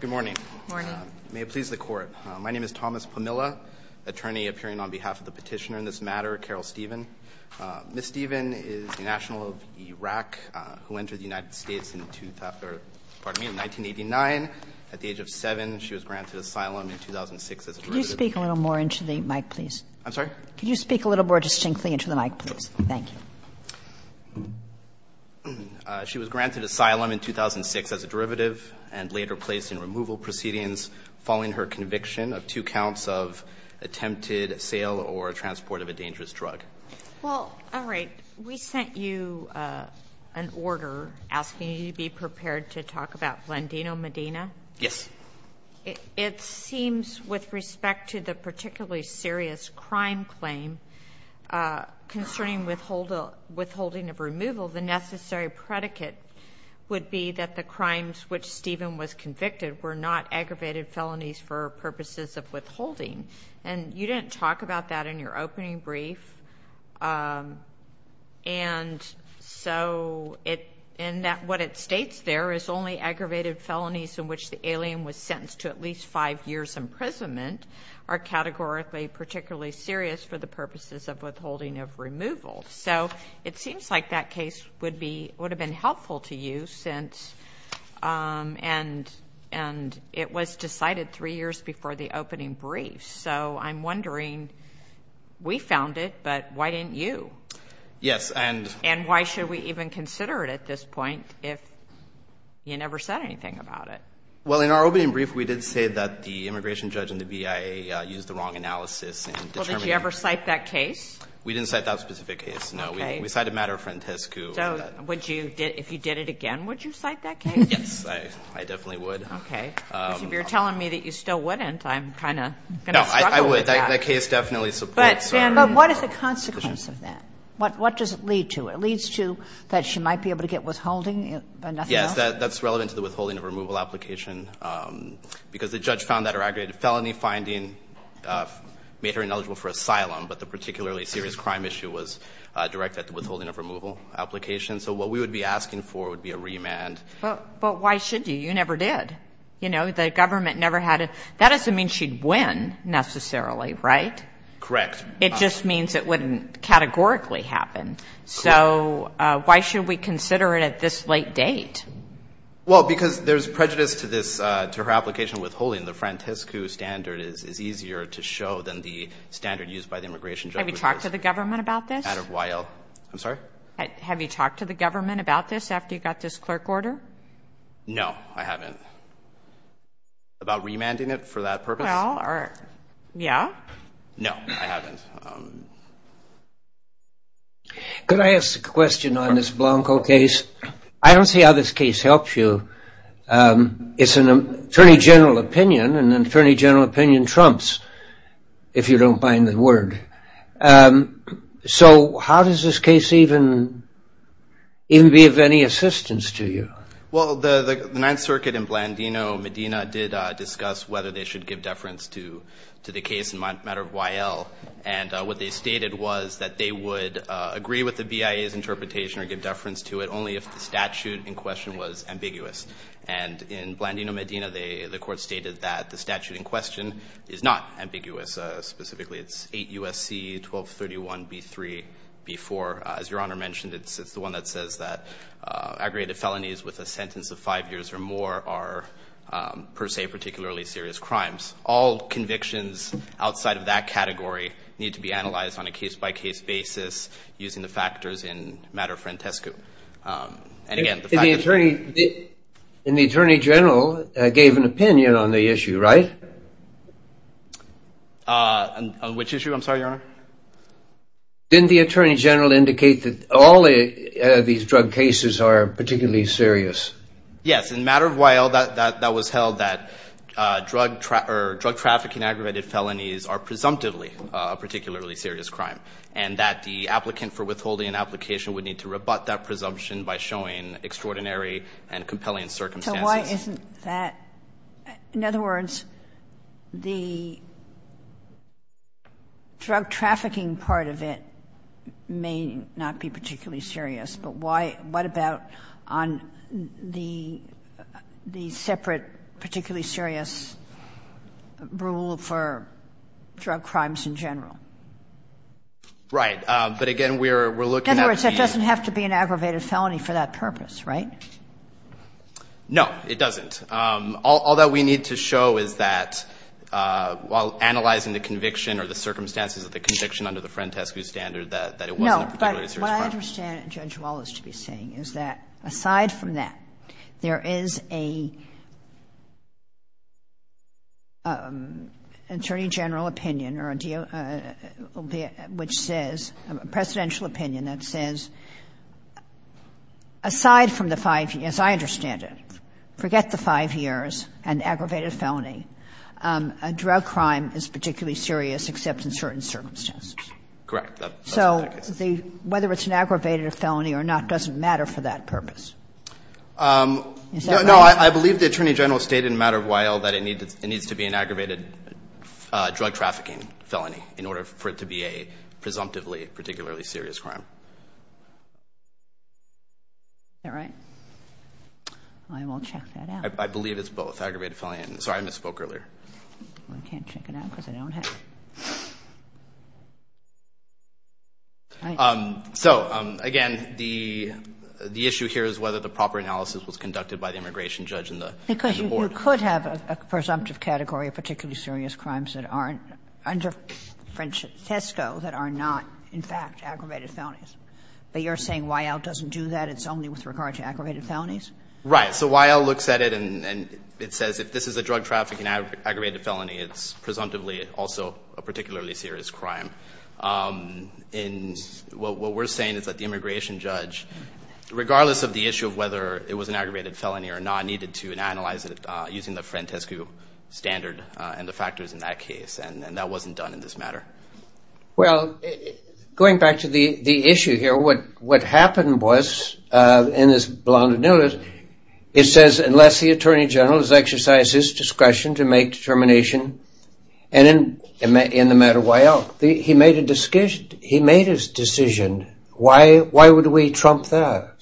Good morning, may it please the Court. My name is Thomas Pomilla, attorney appearing on behalf of the petitioner in this matter, Carol Stephen. Ms. Stephen is a national of Iraq who entered the United States in 1989. At the age of 7, she was granted asylum in 2006 as a derivative. Could you speak a little more distinctly into the mic, please? I'm sorry? Could you speak a little more distinctly into the mic, please? Thank you. She was granted asylum in 2006 as a derivative and later placed in removal proceedings following her conviction of two counts of attempted sale or transport of a dangerous drug. Well, all right. We sent you an order asking you to be prepared to talk about Blandino Medina. Yes. It seems with respect to the particularly serious crime claim concerning withholding of removal, the necessary predicate would be that the crimes which Stephen was convicted were not aggravated felonies for purposes of withholding. And you didn't talk about that in your opening brief. And so in that what it states there is only aggravated felonies in which the alien was sentenced to at least five years' imprisonment are categorically particularly serious for the purposes of withholding of removal. So it seems like that case would have been helpful to you since and it was decided three years before the opening brief. So I'm wondering, we found it, but why didn't you? Yes. And why should we even consider it at this point if you never said anything about it? Well, in our opening brief, we did say that the immigration judge and the BIA used the wrong analysis. Well, did you ever cite that case? We didn't cite that specific case, no. We cited Matter Frantescu. So if you did it again, would you cite that case? Yes, I definitely would. Okay. Because if you're telling me that you still wouldn't, I'm kind of going to struggle with that. No, I would. That case definitely supports that. But, Sam, what is the consequence of that? What does it lead to? It leads to that she might be able to get withholding, but nothing else? Yes, that's relevant to the withholding of removal application because the judge found that her aggravated felony finding made her ineligible for asylum, but the particularly serious crime issue was directed at the withholding of removal application. So what we would be asking for would be a remand. But why should you? You never did. You know, the government never had it. That doesn't mean she'd win, necessarily, right? Correct. It just means it wouldn't categorically happen. So why should we consider it at this late date? Well, because there's prejudice to her application of withholding. The Frantescu standard is easier to show than the standard used by the immigration judge. Have you talked to the government about this? Out of YL. I'm sorry? Have you talked to the government about this after you got this clerk order? No, I haven't. About remanding it for that purpose? Well, yeah. No, I haven't. Could I ask a question on this Blanco case? I don't see how this case helps you. It's an attorney general opinion, and an attorney general opinion trumps if you don't mind the word. So how does this case even be of any assistance to you? Well, the Ninth Circuit in Blandino, Medina, did discuss whether they should give deference to the case in matter of YL. And what they stated was that they would agree with the BIA's interpretation or give deference to it only if the statute in question was ambiguous. And in Blandino, Medina, the court stated that the statute in question is not ambiguous. Specifically, it's 8 U.S.C. 1231B3B4. As Your Honor mentioned, it's the one that says that aggregated felonies with a sentence of five years or more are, per se, particularly serious crimes. All convictions outside of that category need to be analyzed on a case-by-case basis using the factors in matter frantescu. And the attorney general gave an opinion on the issue, right? On which issue, I'm sorry, Your Honor? Didn't the attorney general indicate that all of these drug cases are particularly serious? Yes, in matter of YL, that was held that drug trafficking aggravated felonies are presumptively a particularly serious crime. And that the applicant for withholding an application would need to rebut that presumption by showing extraordinary and compelling circumstances. So why isn't that? In other words, the drug trafficking part of it may not be particularly serious. But why — what about on the separate particularly serious rule for drug crimes in general? Right. But again, we're looking at the — In other words, it doesn't have to be an aggravated felony for that purpose, right? No, it doesn't. All that we need to show is that while analyzing the conviction or the circumstances of the conviction under the frantescu standard, that it wasn't a particularly serious crime. But what I understand Judge Wallace to be saying is that aside from that, there is an attorney general opinion or a deal which says, a presidential opinion that says, aside from the five — as I understand it, forget the five years and aggravated felony, a drug crime is particularly serious except in certain circumstances. Correct. So whether it's an aggravated felony or not doesn't matter for that purpose. No, I believe the attorney general stated in a matter of a while that it needs to be an aggravated drug trafficking felony in order for it to be a presumptively particularly serious crime. Is that right? I will check that out. I believe it's both, aggravated felony and — sorry, I misspoke earlier. I can't check it out because I don't have it. So, again, the issue here is whether the proper analysis was conducted by the immigration judge and the board. Because you could have a presumptive category of particularly serious crimes that aren't under frantesco that are not, in fact, aggravated felonies. But you're saying YL doesn't do that? It's only with regard to aggravated felonies? Right. So YL looks at it and it says if this is a drug trafficking aggravated felony, it's presumptively also a particularly serious crime. And what we're saying is that the immigration judge, regardless of the issue of whether it was an aggravated felony or not, needed to analyze it using the frantesco standard and the factors in that case. And that wasn't done in this matter. Well, going back to the issue here, what happened was, in this blunted notice, it says unless the attorney general has exercised his discretion to make determination in the matter YL, he made his decision. Why would we trump that?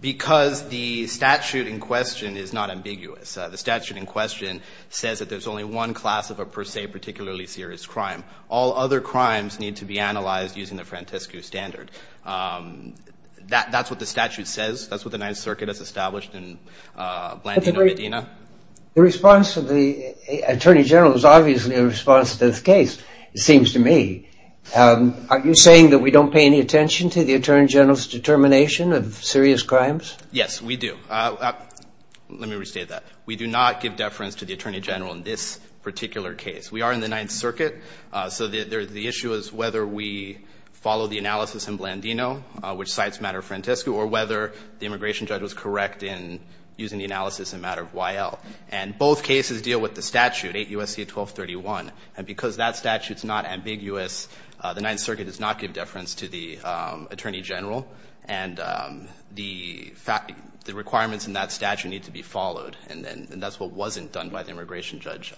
Because the statute in question is not ambiguous. The statute in question says that there's only one class of a per se particularly serious crime. All other crimes need to be analyzed using the frantesco standard. That's what the statute says. That's what the Ninth Circuit has established in Blandino-Medina. The response of the attorney general is obviously a response to this case, it seems to me. Are you saying that we don't pay any attention to the attorney general's determination of serious crimes? Yes, we do. Let me restate that. We do not give deference to the attorney general in this particular case. We are in the Ninth Circuit. So the issue is whether we follow the analysis in Blandino, which cites matter frantesco, or whether the immigration judge was correct in using the analysis in matter of YL. And both cases deal with the statute, 8 U.S.C. 1231. And because that statute's not ambiguous, the Ninth Circuit does not give deference to the attorney general, and the requirements in that statute need to be followed. And that's what wasn't done by the immigration judge.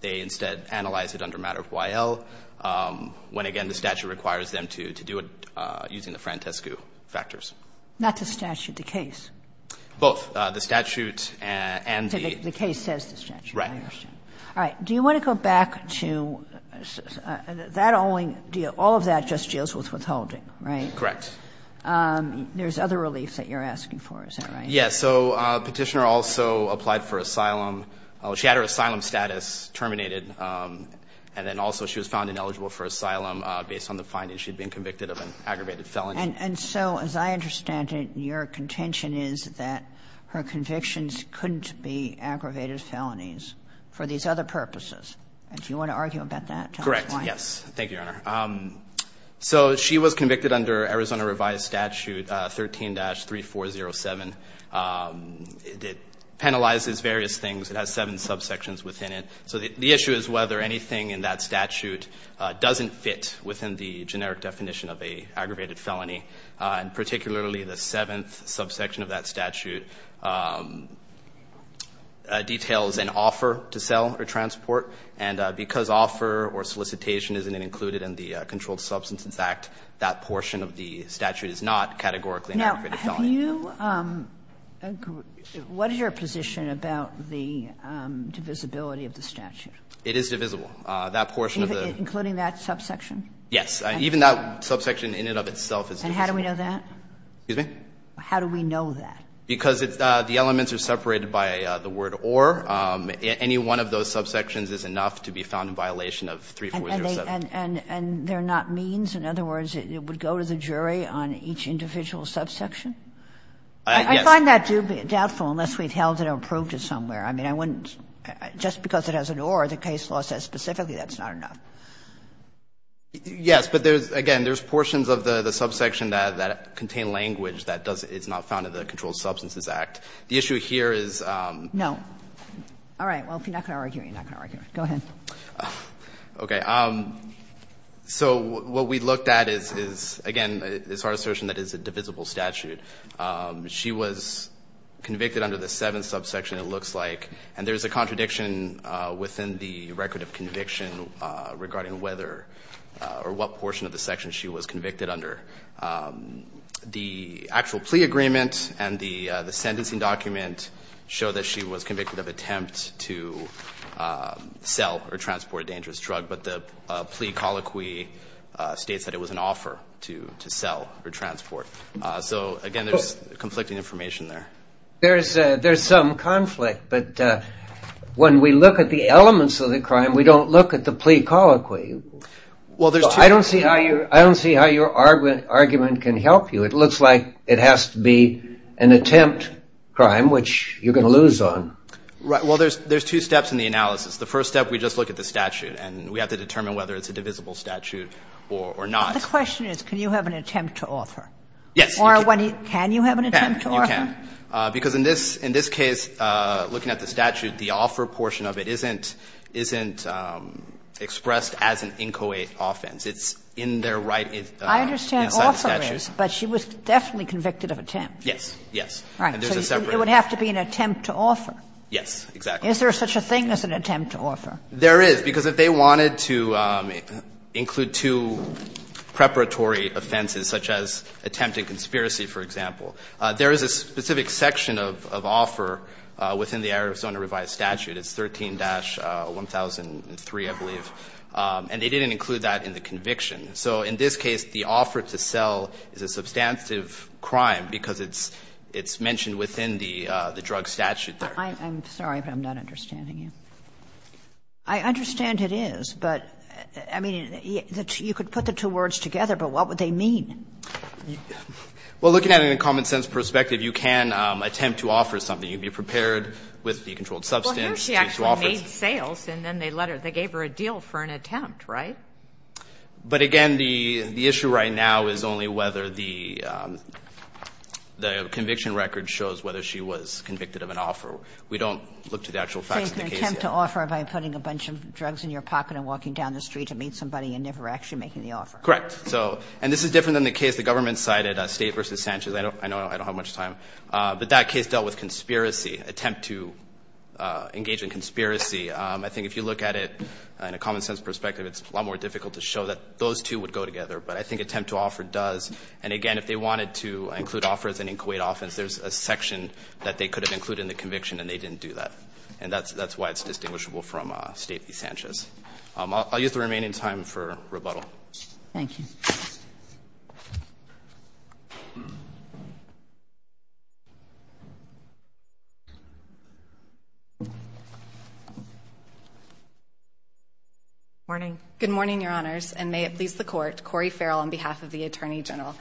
They instead analyzed it under matter of YL, when again the statute requires them to do it using the frantesco factors. Not the statute, the case. The statute and the case. The case says the statute. Right. All right. Do you want to go back to that only deal? All of that just deals with withholding, right? Correct. There's other reliefs that you're asking for, is that right? Yes. So Petitioner also applied for asylum. She had her asylum status terminated, and then also she was found ineligible for asylum based on the finding she had been convicted of an aggravated felony. And so as I understand it, your contention is that her convictions couldn't be aggravated felonies for these other purposes. Do you want to argue about that? Correct. Yes. Thank you, Your Honor. So she was convicted under Arizona revised statute 13-3407. It penalizes various things. It has seven subsections within it. So the issue is whether anything in that statute doesn't fit within the generic definition of an aggravated felony, and particularly the seventh subsection of that statute details an offer to sell or transport. And because offer or solicitation isn't included in the Controlled Substances Act, that portion of the statute is not categorically an aggravated felony. Do you agree, what is your position about the divisibility of the statute? It is divisible. That portion of the. Including that subsection? Yes. Even that subsection in and of itself is divisible. And how do we know that? Excuse me? How do we know that? Because the elements are separated by the word or. Any one of those subsections is enough to be found in violation of 3407. And they're not means? In other words, it would go to the jury on each individual subsection? Yes. I find that dubious, doubtful, unless we've held it or approved it somewhere. I mean, I wouldn't, just because it has an or, the case law says specifically that's not enough. Yes, but there's, again, there's portions of the subsection that contain language that doesn't, it's not found in the Controlled Substances Act. The issue here is. No. All right. Well, if you're not going to argue, you're not going to argue. Go ahead. Okay. So what we looked at is, again, is our assertion that it's a divisible statute. She was convicted under the seventh subsection, it looks like. And there's a contradiction within the record of conviction regarding whether or what portion of the section she was convicted under. The actual plea agreement and the sentencing document show that she was convicted of attempt to sell or transport a dangerous drug. But the plea colloquy states that it was an offer to sell or transport. So, again, there's conflicting information there. There's some conflict, but when we look at the elements of the crime, we don't look at the plea colloquy. Well, there's two. I don't see how your argument can help you. It looks like it has to be an attempt crime, which you're going to lose on. Right. Well, there's two steps in the analysis. The first step, we just look at the statute, and we have to determine whether it's a divisible statute or not. The question is, can you have an attempt to offer? Yes. Or can you have an attempt to offer? You can. Because in this case, looking at the statute, the offer portion of it isn't expressed as an inchoate offense. It's in their right inside the statute. I understand offer is, but she was definitely convicted of attempt. Yes, yes. Right. So it would have to be an attempt to offer. Yes, exactly. Is there such a thing as an attempt to offer? There is, because if they wanted to include two preparatory offenses, such as attempt in conspiracy, for example, there is a specific section of offer within the Arizona revised statute. It's 13-1003, I believe. And they didn't include that in the conviction. So in this case, the offer to sell is a substantive crime because it's mentioned within the drug statute there. I'm sorry, but I'm not understanding you. I understand it is, but, I mean, you could put the two words together, but what would they mean? Well, looking at it in a common-sense perspective, you can attempt to offer something. You can be prepared with the controlled substance. Well, here she actually made sales and then they let her, they gave her a deal for an attempt, right? But, again, the issue right now is only whether the conviction record shows whether she was convicted of an offer. We don't look to the actual facts of the case yet. So it's an attempt to offer by putting a bunch of drugs in your pocket and walking down the street to meet somebody and never actually making the offer. Correct. So, and this is different than the case the government cited, State v. Sanchez. I know I don't have much time. But that case dealt with conspiracy, attempt to engage in conspiracy. I think if you look at it in a common-sense perspective, it's a lot more difficult to show that those two would go together. But I think attempt to offer does. And, again, if they wanted to include offers and include offense, there's a section that they could have included in the conviction and they didn't do that. And that's why it's distinguishable from State v. Sanchez. I'll use the remaining time for rebuttal. Thank you. Morning. Good morning, Your Honors. And may it please the Court, Corey Farrell on behalf of the Attorney General.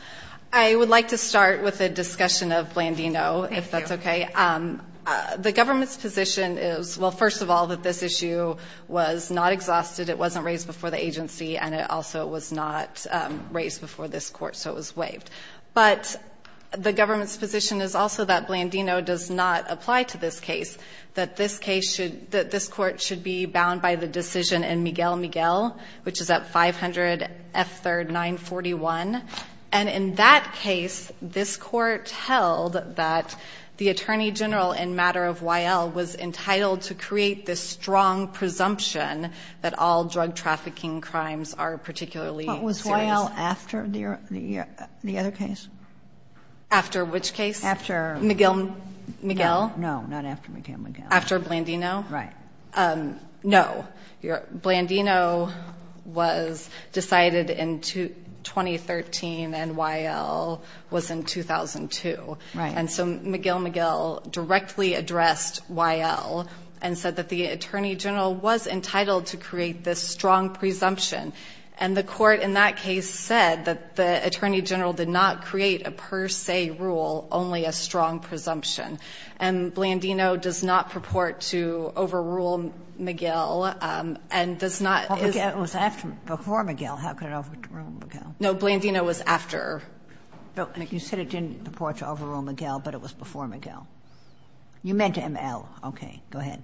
I would like to start with a discussion of Blandino, if that's okay. Thank you. The government's position is, well, first of all, that this issue was not exhausted, it wasn't raised before the agency, and it also was not raised before this Court, so it was waived. But the government's position is also that Blandino does not apply to this case, that this Court should be bound by the decision in Miguel Miguel, which is at 500 F. 3rd 941. And in that case, this Court held that the Attorney General in matter of Y.L. was entitled to create this strong presumption that all drug trafficking crimes are particularly serious. But was Y.L. after the other case? After which case? After Miguel Miguel. No, not after Miguel Miguel. After Blandino? Right. No. Blandino was decided in 2013 and Y.L. was in 2002. Right. And so Miguel Miguel directly addressed Y.L. and said that the Attorney General was entitled to create this strong presumption. And the Court in that case said that the Attorney General did not create a per se rule, only a strong presumption. And Blandino does not purport to overrule Miguel and does not. But Miguel was after, before Miguel. How could it overrule Miguel? No. Blandino was after. But you said it didn't purport to overrule Miguel, but it was before Miguel. You meant M.L. Okay. Go ahead.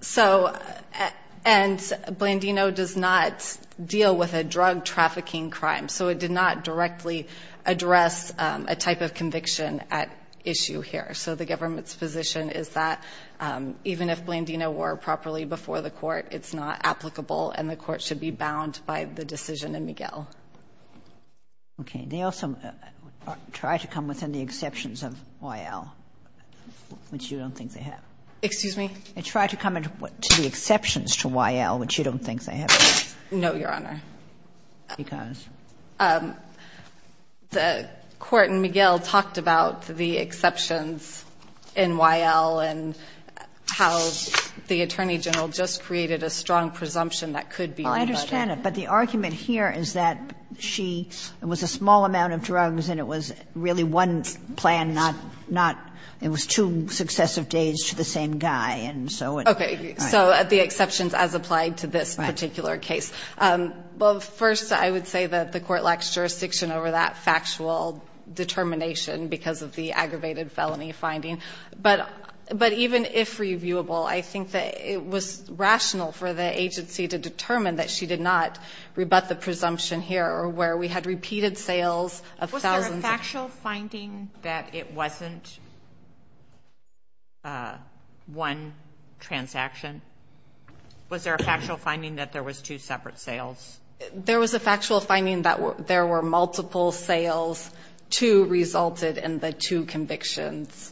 So, and Blandino does not deal with a drug trafficking crime. So it did not directly address a type of conviction at issue here. So the government's position is that even if Blandino were properly before the Court, it's not applicable and the Court should be bound by the decision in Miguel. Okay. They also try to come within the exceptions of Y.L., which you don't think they have. Excuse me? They try to come to the exceptions to Y.L., which you don't think they have. No, Your Honor. Because? The Court in Miguel talked about the exceptions in Y.L. and how the Attorney General just created a strong presumption that could be rebutted. I understand it. But the argument here is that she, it was a small amount of drugs and it was really one plan, not, not, it was two successive days to the same guy. And so it. Okay. So the exceptions as applied to this particular case. Right. Well, first, I would say that the Court lacks jurisdiction over that factual determination because of the aggravated felony finding. But, but even if reviewable, I think that it was rational for the agency to determine that she did not rebut the presumption here or where we had repeated sales of thousands. Was there a factual finding that it wasn't one transaction? Was there a factual finding that there was two separate sales? There was a factual finding that there were multiple sales. Two resulted in the two convictions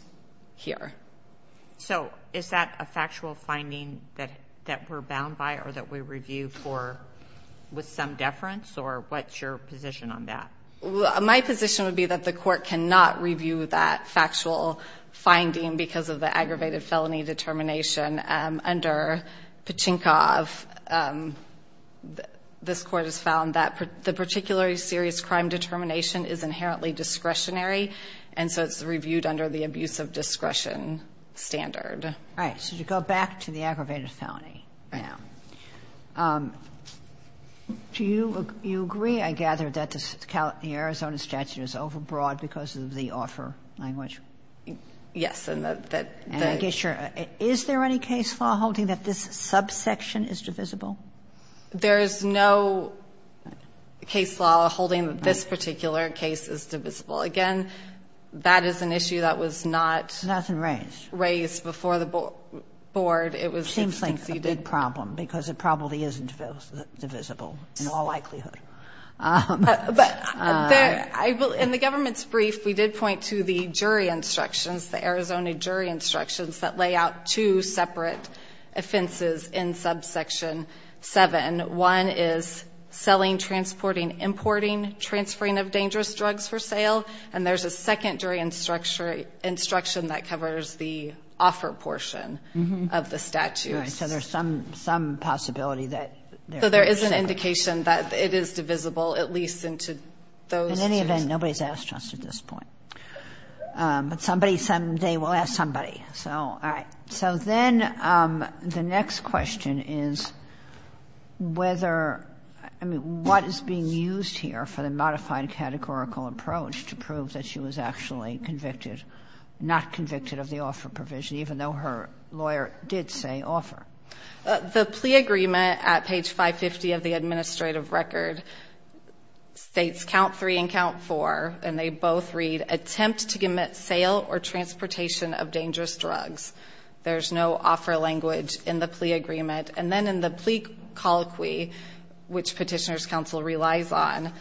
here. So is that a factual finding that, that we're bound by or that we review for with some deference or what's your position on that? My position would be that the Court cannot review that factual finding because of the aggravated felony determination under Pachinkov. This Court has found that the particularly serious crime determination is inherently discretionary and so it's reviewed under the abuse of discretion standard. Right. So you go back to the aggravated felony. Yeah. Do you, you agree, I gather, that the Arizona statute is overbroad because of the offer language? Yes. And I guess you're, is there any case law holding that this subsection is divisible? There is no case law holding that this particular case is divisible. Again, that is an issue that was not raised before the board. It was conceded. Seems like a big problem because it probably isn't divisible in all likelihood. But there, in the government's brief, we did point to the jury instructions, the Arizona jury instructions that lay out two separate offenses in subsection 7. One is selling, transporting, importing, transferring of dangerous drugs for sale. And there's a second jury instruction that covers the offer portion of the statute. Right. So there's some possibility that there is a separate. So there is an indication that it is divisible, at least into those. In any event, nobody's asked us at this point. But somebody someday will ask somebody. So, all right. So then the next question is whether, I mean, what is being used here for the modified categorical approach to prove that she was actually convicted, not convicted of the offer provision, even though her lawyer did say offer? The plea agreement at page 550 of the administrative record states count three and count four, and they both read, attempt to commit sale or transportation of dangerous drugs. There's no offer language in the plea agreement. And then in the plea colloquy, which Petitioners' Counsel relies on,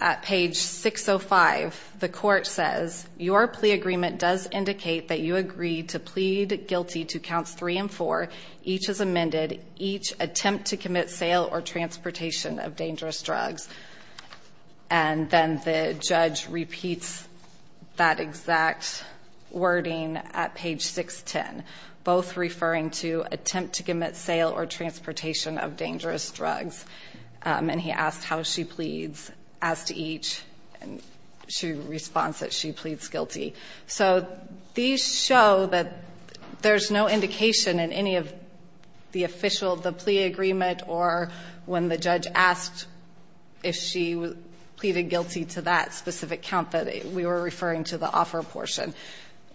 at page 605, the court says, your plea agreement does indicate that you agree to plead guilty to counts three and four. Each is amended. Each attempt to commit sale or transportation of dangerous drugs. And then the judge repeats that exact wording at page 610, both referring to attempt to commit sale or transportation of dangerous drugs. And he asks how she pleads as to each. And she responds that she pleads guilty. So these show that there's no indication in any of the official, the plea agreement or when the judge asked if she pleaded guilty to that specific count that we were referring to the offer portion.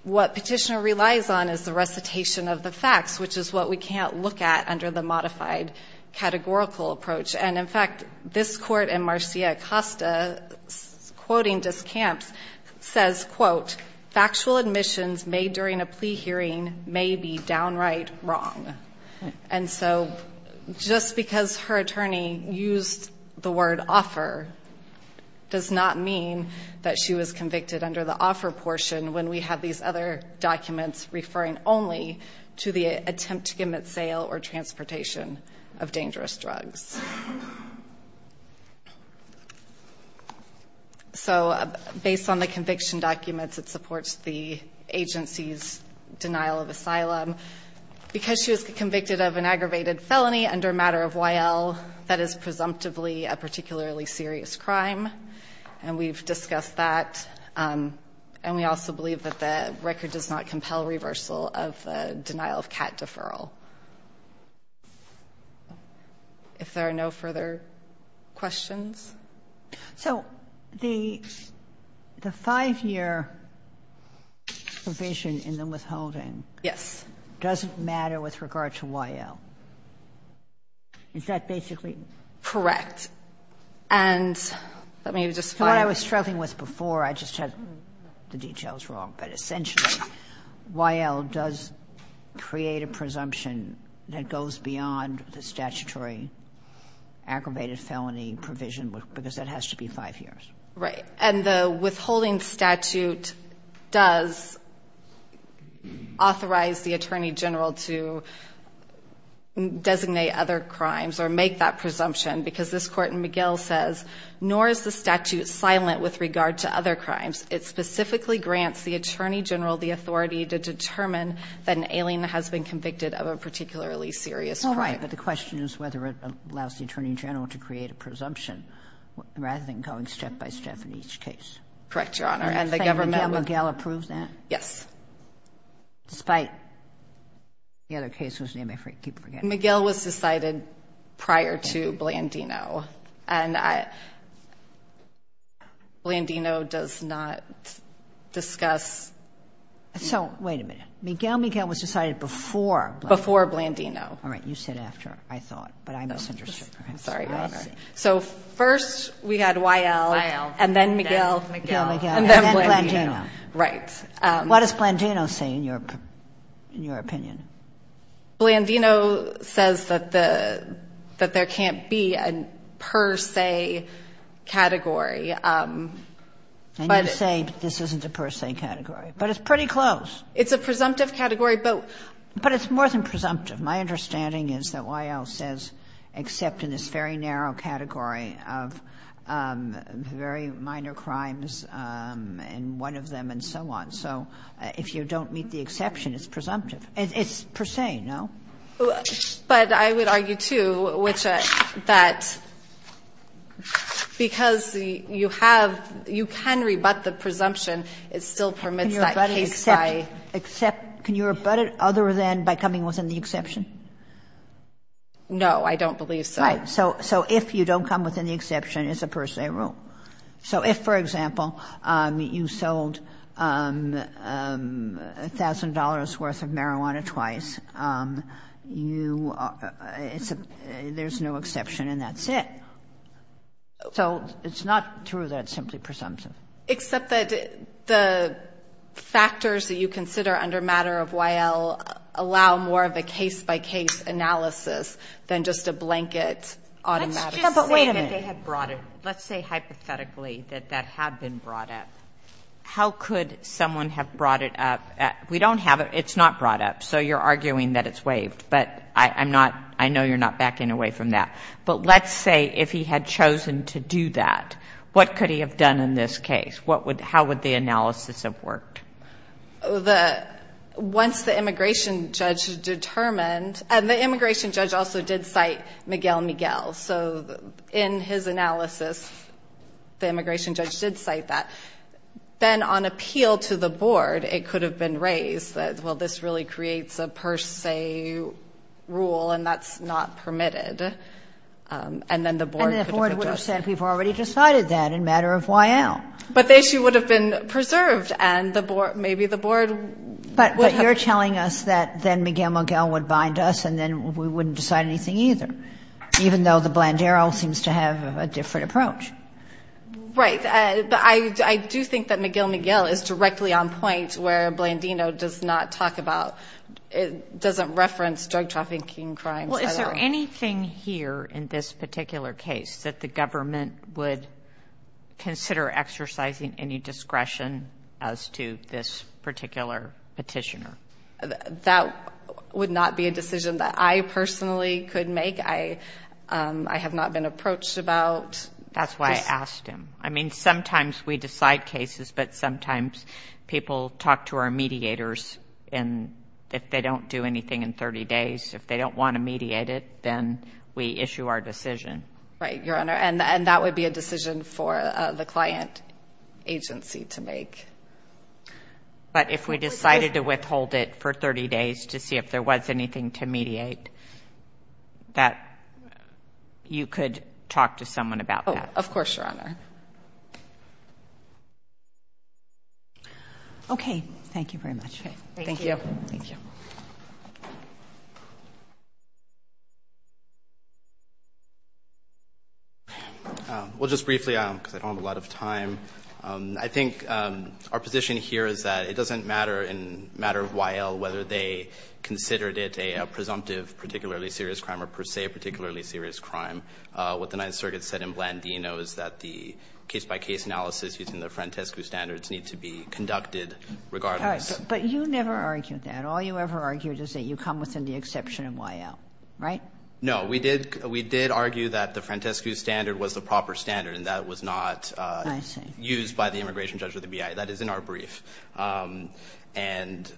What Petitioner relies on is the recitation of the facts, which is what we can't look at under the modified categorical approach. And, in fact, this court in Marcia Acosta, quoting Discamps, says, quote, factual admissions made during a plea hearing may be downright wrong. And so just because her attorney used the word offer does not mean that she was convicted under the offer portion when we have these other documents referring only to the attempt to commit sale or transportation of dangerous drugs. So based on the conviction documents, it supports the agency's denial of asylum. Because she was convicted of an aggravated felony under a matter of YL, that is presumptively a particularly serious crime. And we've discussed that. And we also believe that the record does not compel reversal of the denial of CAT deferral. If there are no further questions. So the five-year provision in the withholding. Yes. Doesn't matter with regard to YL. Is that basically? Correct. And let me just find it. What I was struggling with before, I just had the details wrong, but essentially YL does create a presumption that goes beyond the statutory aggravated felony provision, because that has to be five years. Right. And the withholding statute does authorize the attorney general to designate other crimes or make that presumption, because this Court in McGill says, nor is the statute silent with regard to other crimes. It specifically grants the attorney general the authority to determine that an alien has been convicted of a particularly serious crime. Right. But the question is whether it allows the attorney general to create a presumption rather than going step-by-step in each case. Correct, Your Honor. And the government would. Do you think Miguel Miguel approves that? Yes. Despite the other case whose name I keep forgetting. Miguel was decided prior to Blandino. And Blandino does not discuss. So, wait a minute. Miguel Miguel was decided before. Before Blandino. All right. You said after, I thought. But I misunderstood. I'm sorry, Your Honor. So, first we had Weil. Weil. And then Miguel. Miguel Miguel. And then Blandino. Right. What does Blandino say in your opinion? Blandino says that the, that there can't be a per se category. And you say this isn't a per se category. But it's pretty close. It's a presumptive category, but. But it's more than presumptive. My understanding is that Weil says except in this very narrow category of very minor crimes and one of them and so on. So, if you don't meet the exception, it's presumptive. It's per se, no? But I would argue, too, which that because you have, you can rebut the presumption, it still permits that case by. Can you rebut it other than by coming within the exception? No, I don't believe so. Right. So, if you don't come within the exception, it's a per se rule. So, if, for example, you sold $1,000 worth of marijuana twice, you, there's no exception and that's it. So, it's not true that it's simply presumptive. Except that the factors that you consider under matter of Weil allow more of a case by case analysis than just a blanket automatic. But wait a minute. Let's say hypothetically that that had been brought up. How could someone have brought it up? We don't have it. It's not brought up. So, you're arguing that it's waived. But I'm not, I know you're not backing away from that. But let's say if he had chosen to do that, what could he have done in this case? What would, how would the analysis have worked? The, once the immigration judge determined, and the immigration judge also did cite Miguel Miguel. So, in his analysis, the immigration judge did cite that. Then on appeal to the board, it could have been raised that, well, this really creates a per se rule and that's not permitted. And then the board could have addressed. And then the board would have said we've already decided that in matter of Weil. But the issue would have been preserved and the board, maybe the board would have. But you're telling us that then Miguel Miguel would bind us and then we wouldn't decide anything either. Even though the Blandero seems to have a different approach. Right. But I do think that Miguel Miguel is directly on point where Blandino does not talk about, doesn't reference drug trafficking crimes at all. Well, is there anything here in this particular case that the government would consider exercising any discretion as to this particular petitioner? That would not be a decision that I personally could make. I have not been approached about. That's why I asked him. I mean, sometimes we decide cases, but sometimes people talk to our mediators and if they don't do anything in 30 days, if they don't want to mediate it, then we issue our decision. Right, Your Honor. And that would be a decision for the client agency to make. But if we decided to withhold it for 30 days to see if there was anything to mediate, that you could talk to someone about that. Of course, Your Honor. Okay. Thank you very much. Thank you. Thank you. Well, just briefly, because I don't have a lot of time. I think our position here is that it doesn't matter in the matter of Y.L. whether they considered it a presumptive particularly serious crime or per se a particularly serious crime. What the Ninth Circuit said in Blandino is that the case-by-case analysis using the Frantescu standards need to be conducted regardless. All right. But you never argued that. All you ever argued is that you come within the exception in Y.L., right? No. We did argue that the Frantescu standard was the proper standard and that was not used by the immigration judge or the BIA. That is in our brief. And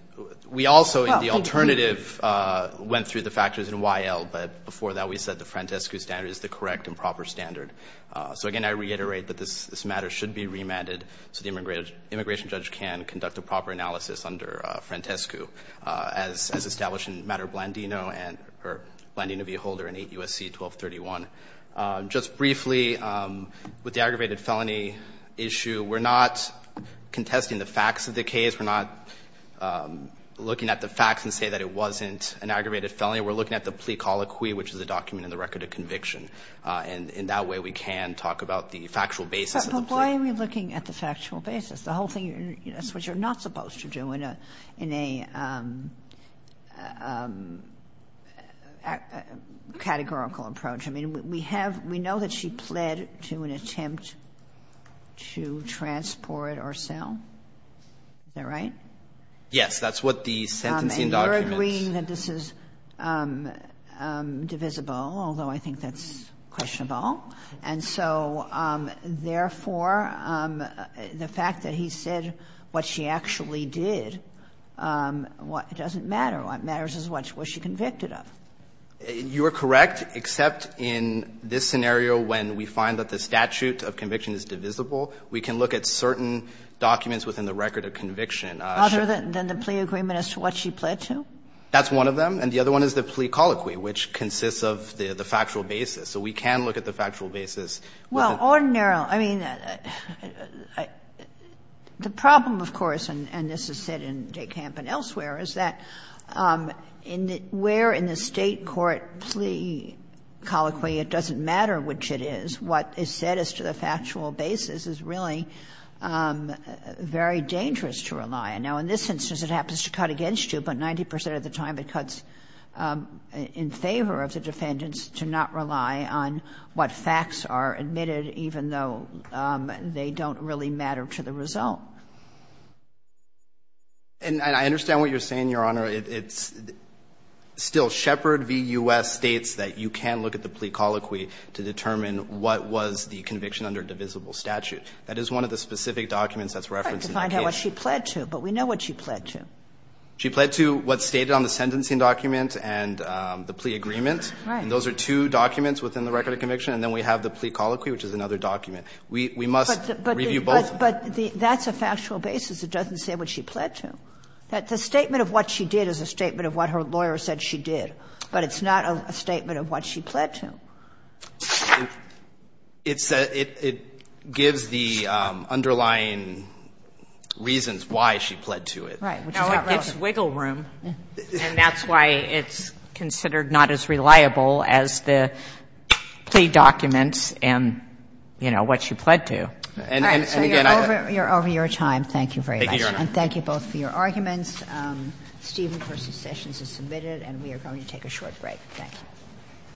we also, the alternative went through the factors in Y.L., but before that, we said the Frantescu standard is the correct and proper standard. So, again, I reiterate that this matter should be remanded so the immigration judge can conduct a proper analysis under Frantescu as established in the matter of Blandino or Blandino v. Holder in 8 U.S.C. 1231. Just briefly, with the aggravated felony issue, we're not contesting the facts of the case. We're not looking at the facts and say that it wasn't an aggravated felony. We're looking at the plea colloquy, which is a document in the record of conviction. And in that way, we can talk about the factual basis of the plea. But why are we looking at the factual basis? The whole thing is what you're not supposed to do in a categorical approach. I mean, we have we know that she pled to an attempt to transport or sell. Is that right? Yes. That's what the sentencing documents. The sentencing document is divisible, although I think that's questionable. And so, therefore, the fact that he said what she actually did doesn't matter. What matters is what she convicted of. You are correct, except in this scenario when we find that the statute of conviction is divisible, we can look at certain documents within the record of conviction. Other than the plea agreement as to what she pled to? That's one of them. And the other one is the plea colloquy, which consists of the factual basis. So we can look at the factual basis. Well, ordinarily, I mean, the problem, of course, and this is said in Dekamp and elsewhere, is that where in the State court plea colloquy it doesn't matter which it is, what is said as to the factual basis is really very dangerous to rely on. Now, in this instance, it happens to cut against you, but 90 percent of the time it cuts in favor of the defendants to not rely on what facts are admitted, even though they don't really matter to the result. And I understand what you're saying, Your Honor. It's still Shepard v. U.S. states that you can look at the plea colloquy to determine what was the conviction under divisible statute. It doesn't say what she pled to, but we know what she pled to. She pled to what's stated on the sentencing document and the plea agreement. Right. And those are two documents within the record of conviction. And then we have the plea colloquy, which is another document. We must review both. But that's a factual basis. It doesn't say what she pled to. The statement of what she did is a statement of what her lawyer said she did. But it's not a statement of what she pled to. It gives the underlying reasons why she pled to it. Right. No, it gives wiggle room. And that's why it's considered not as reliable as the plea documents and, you know, what she pled to. All right. So you're over your time. Thank you very much. Thank you, Your Honor. And thank you both for your arguments. Steven versus Sessions is submitted, and we are going to take a short break. Thank you.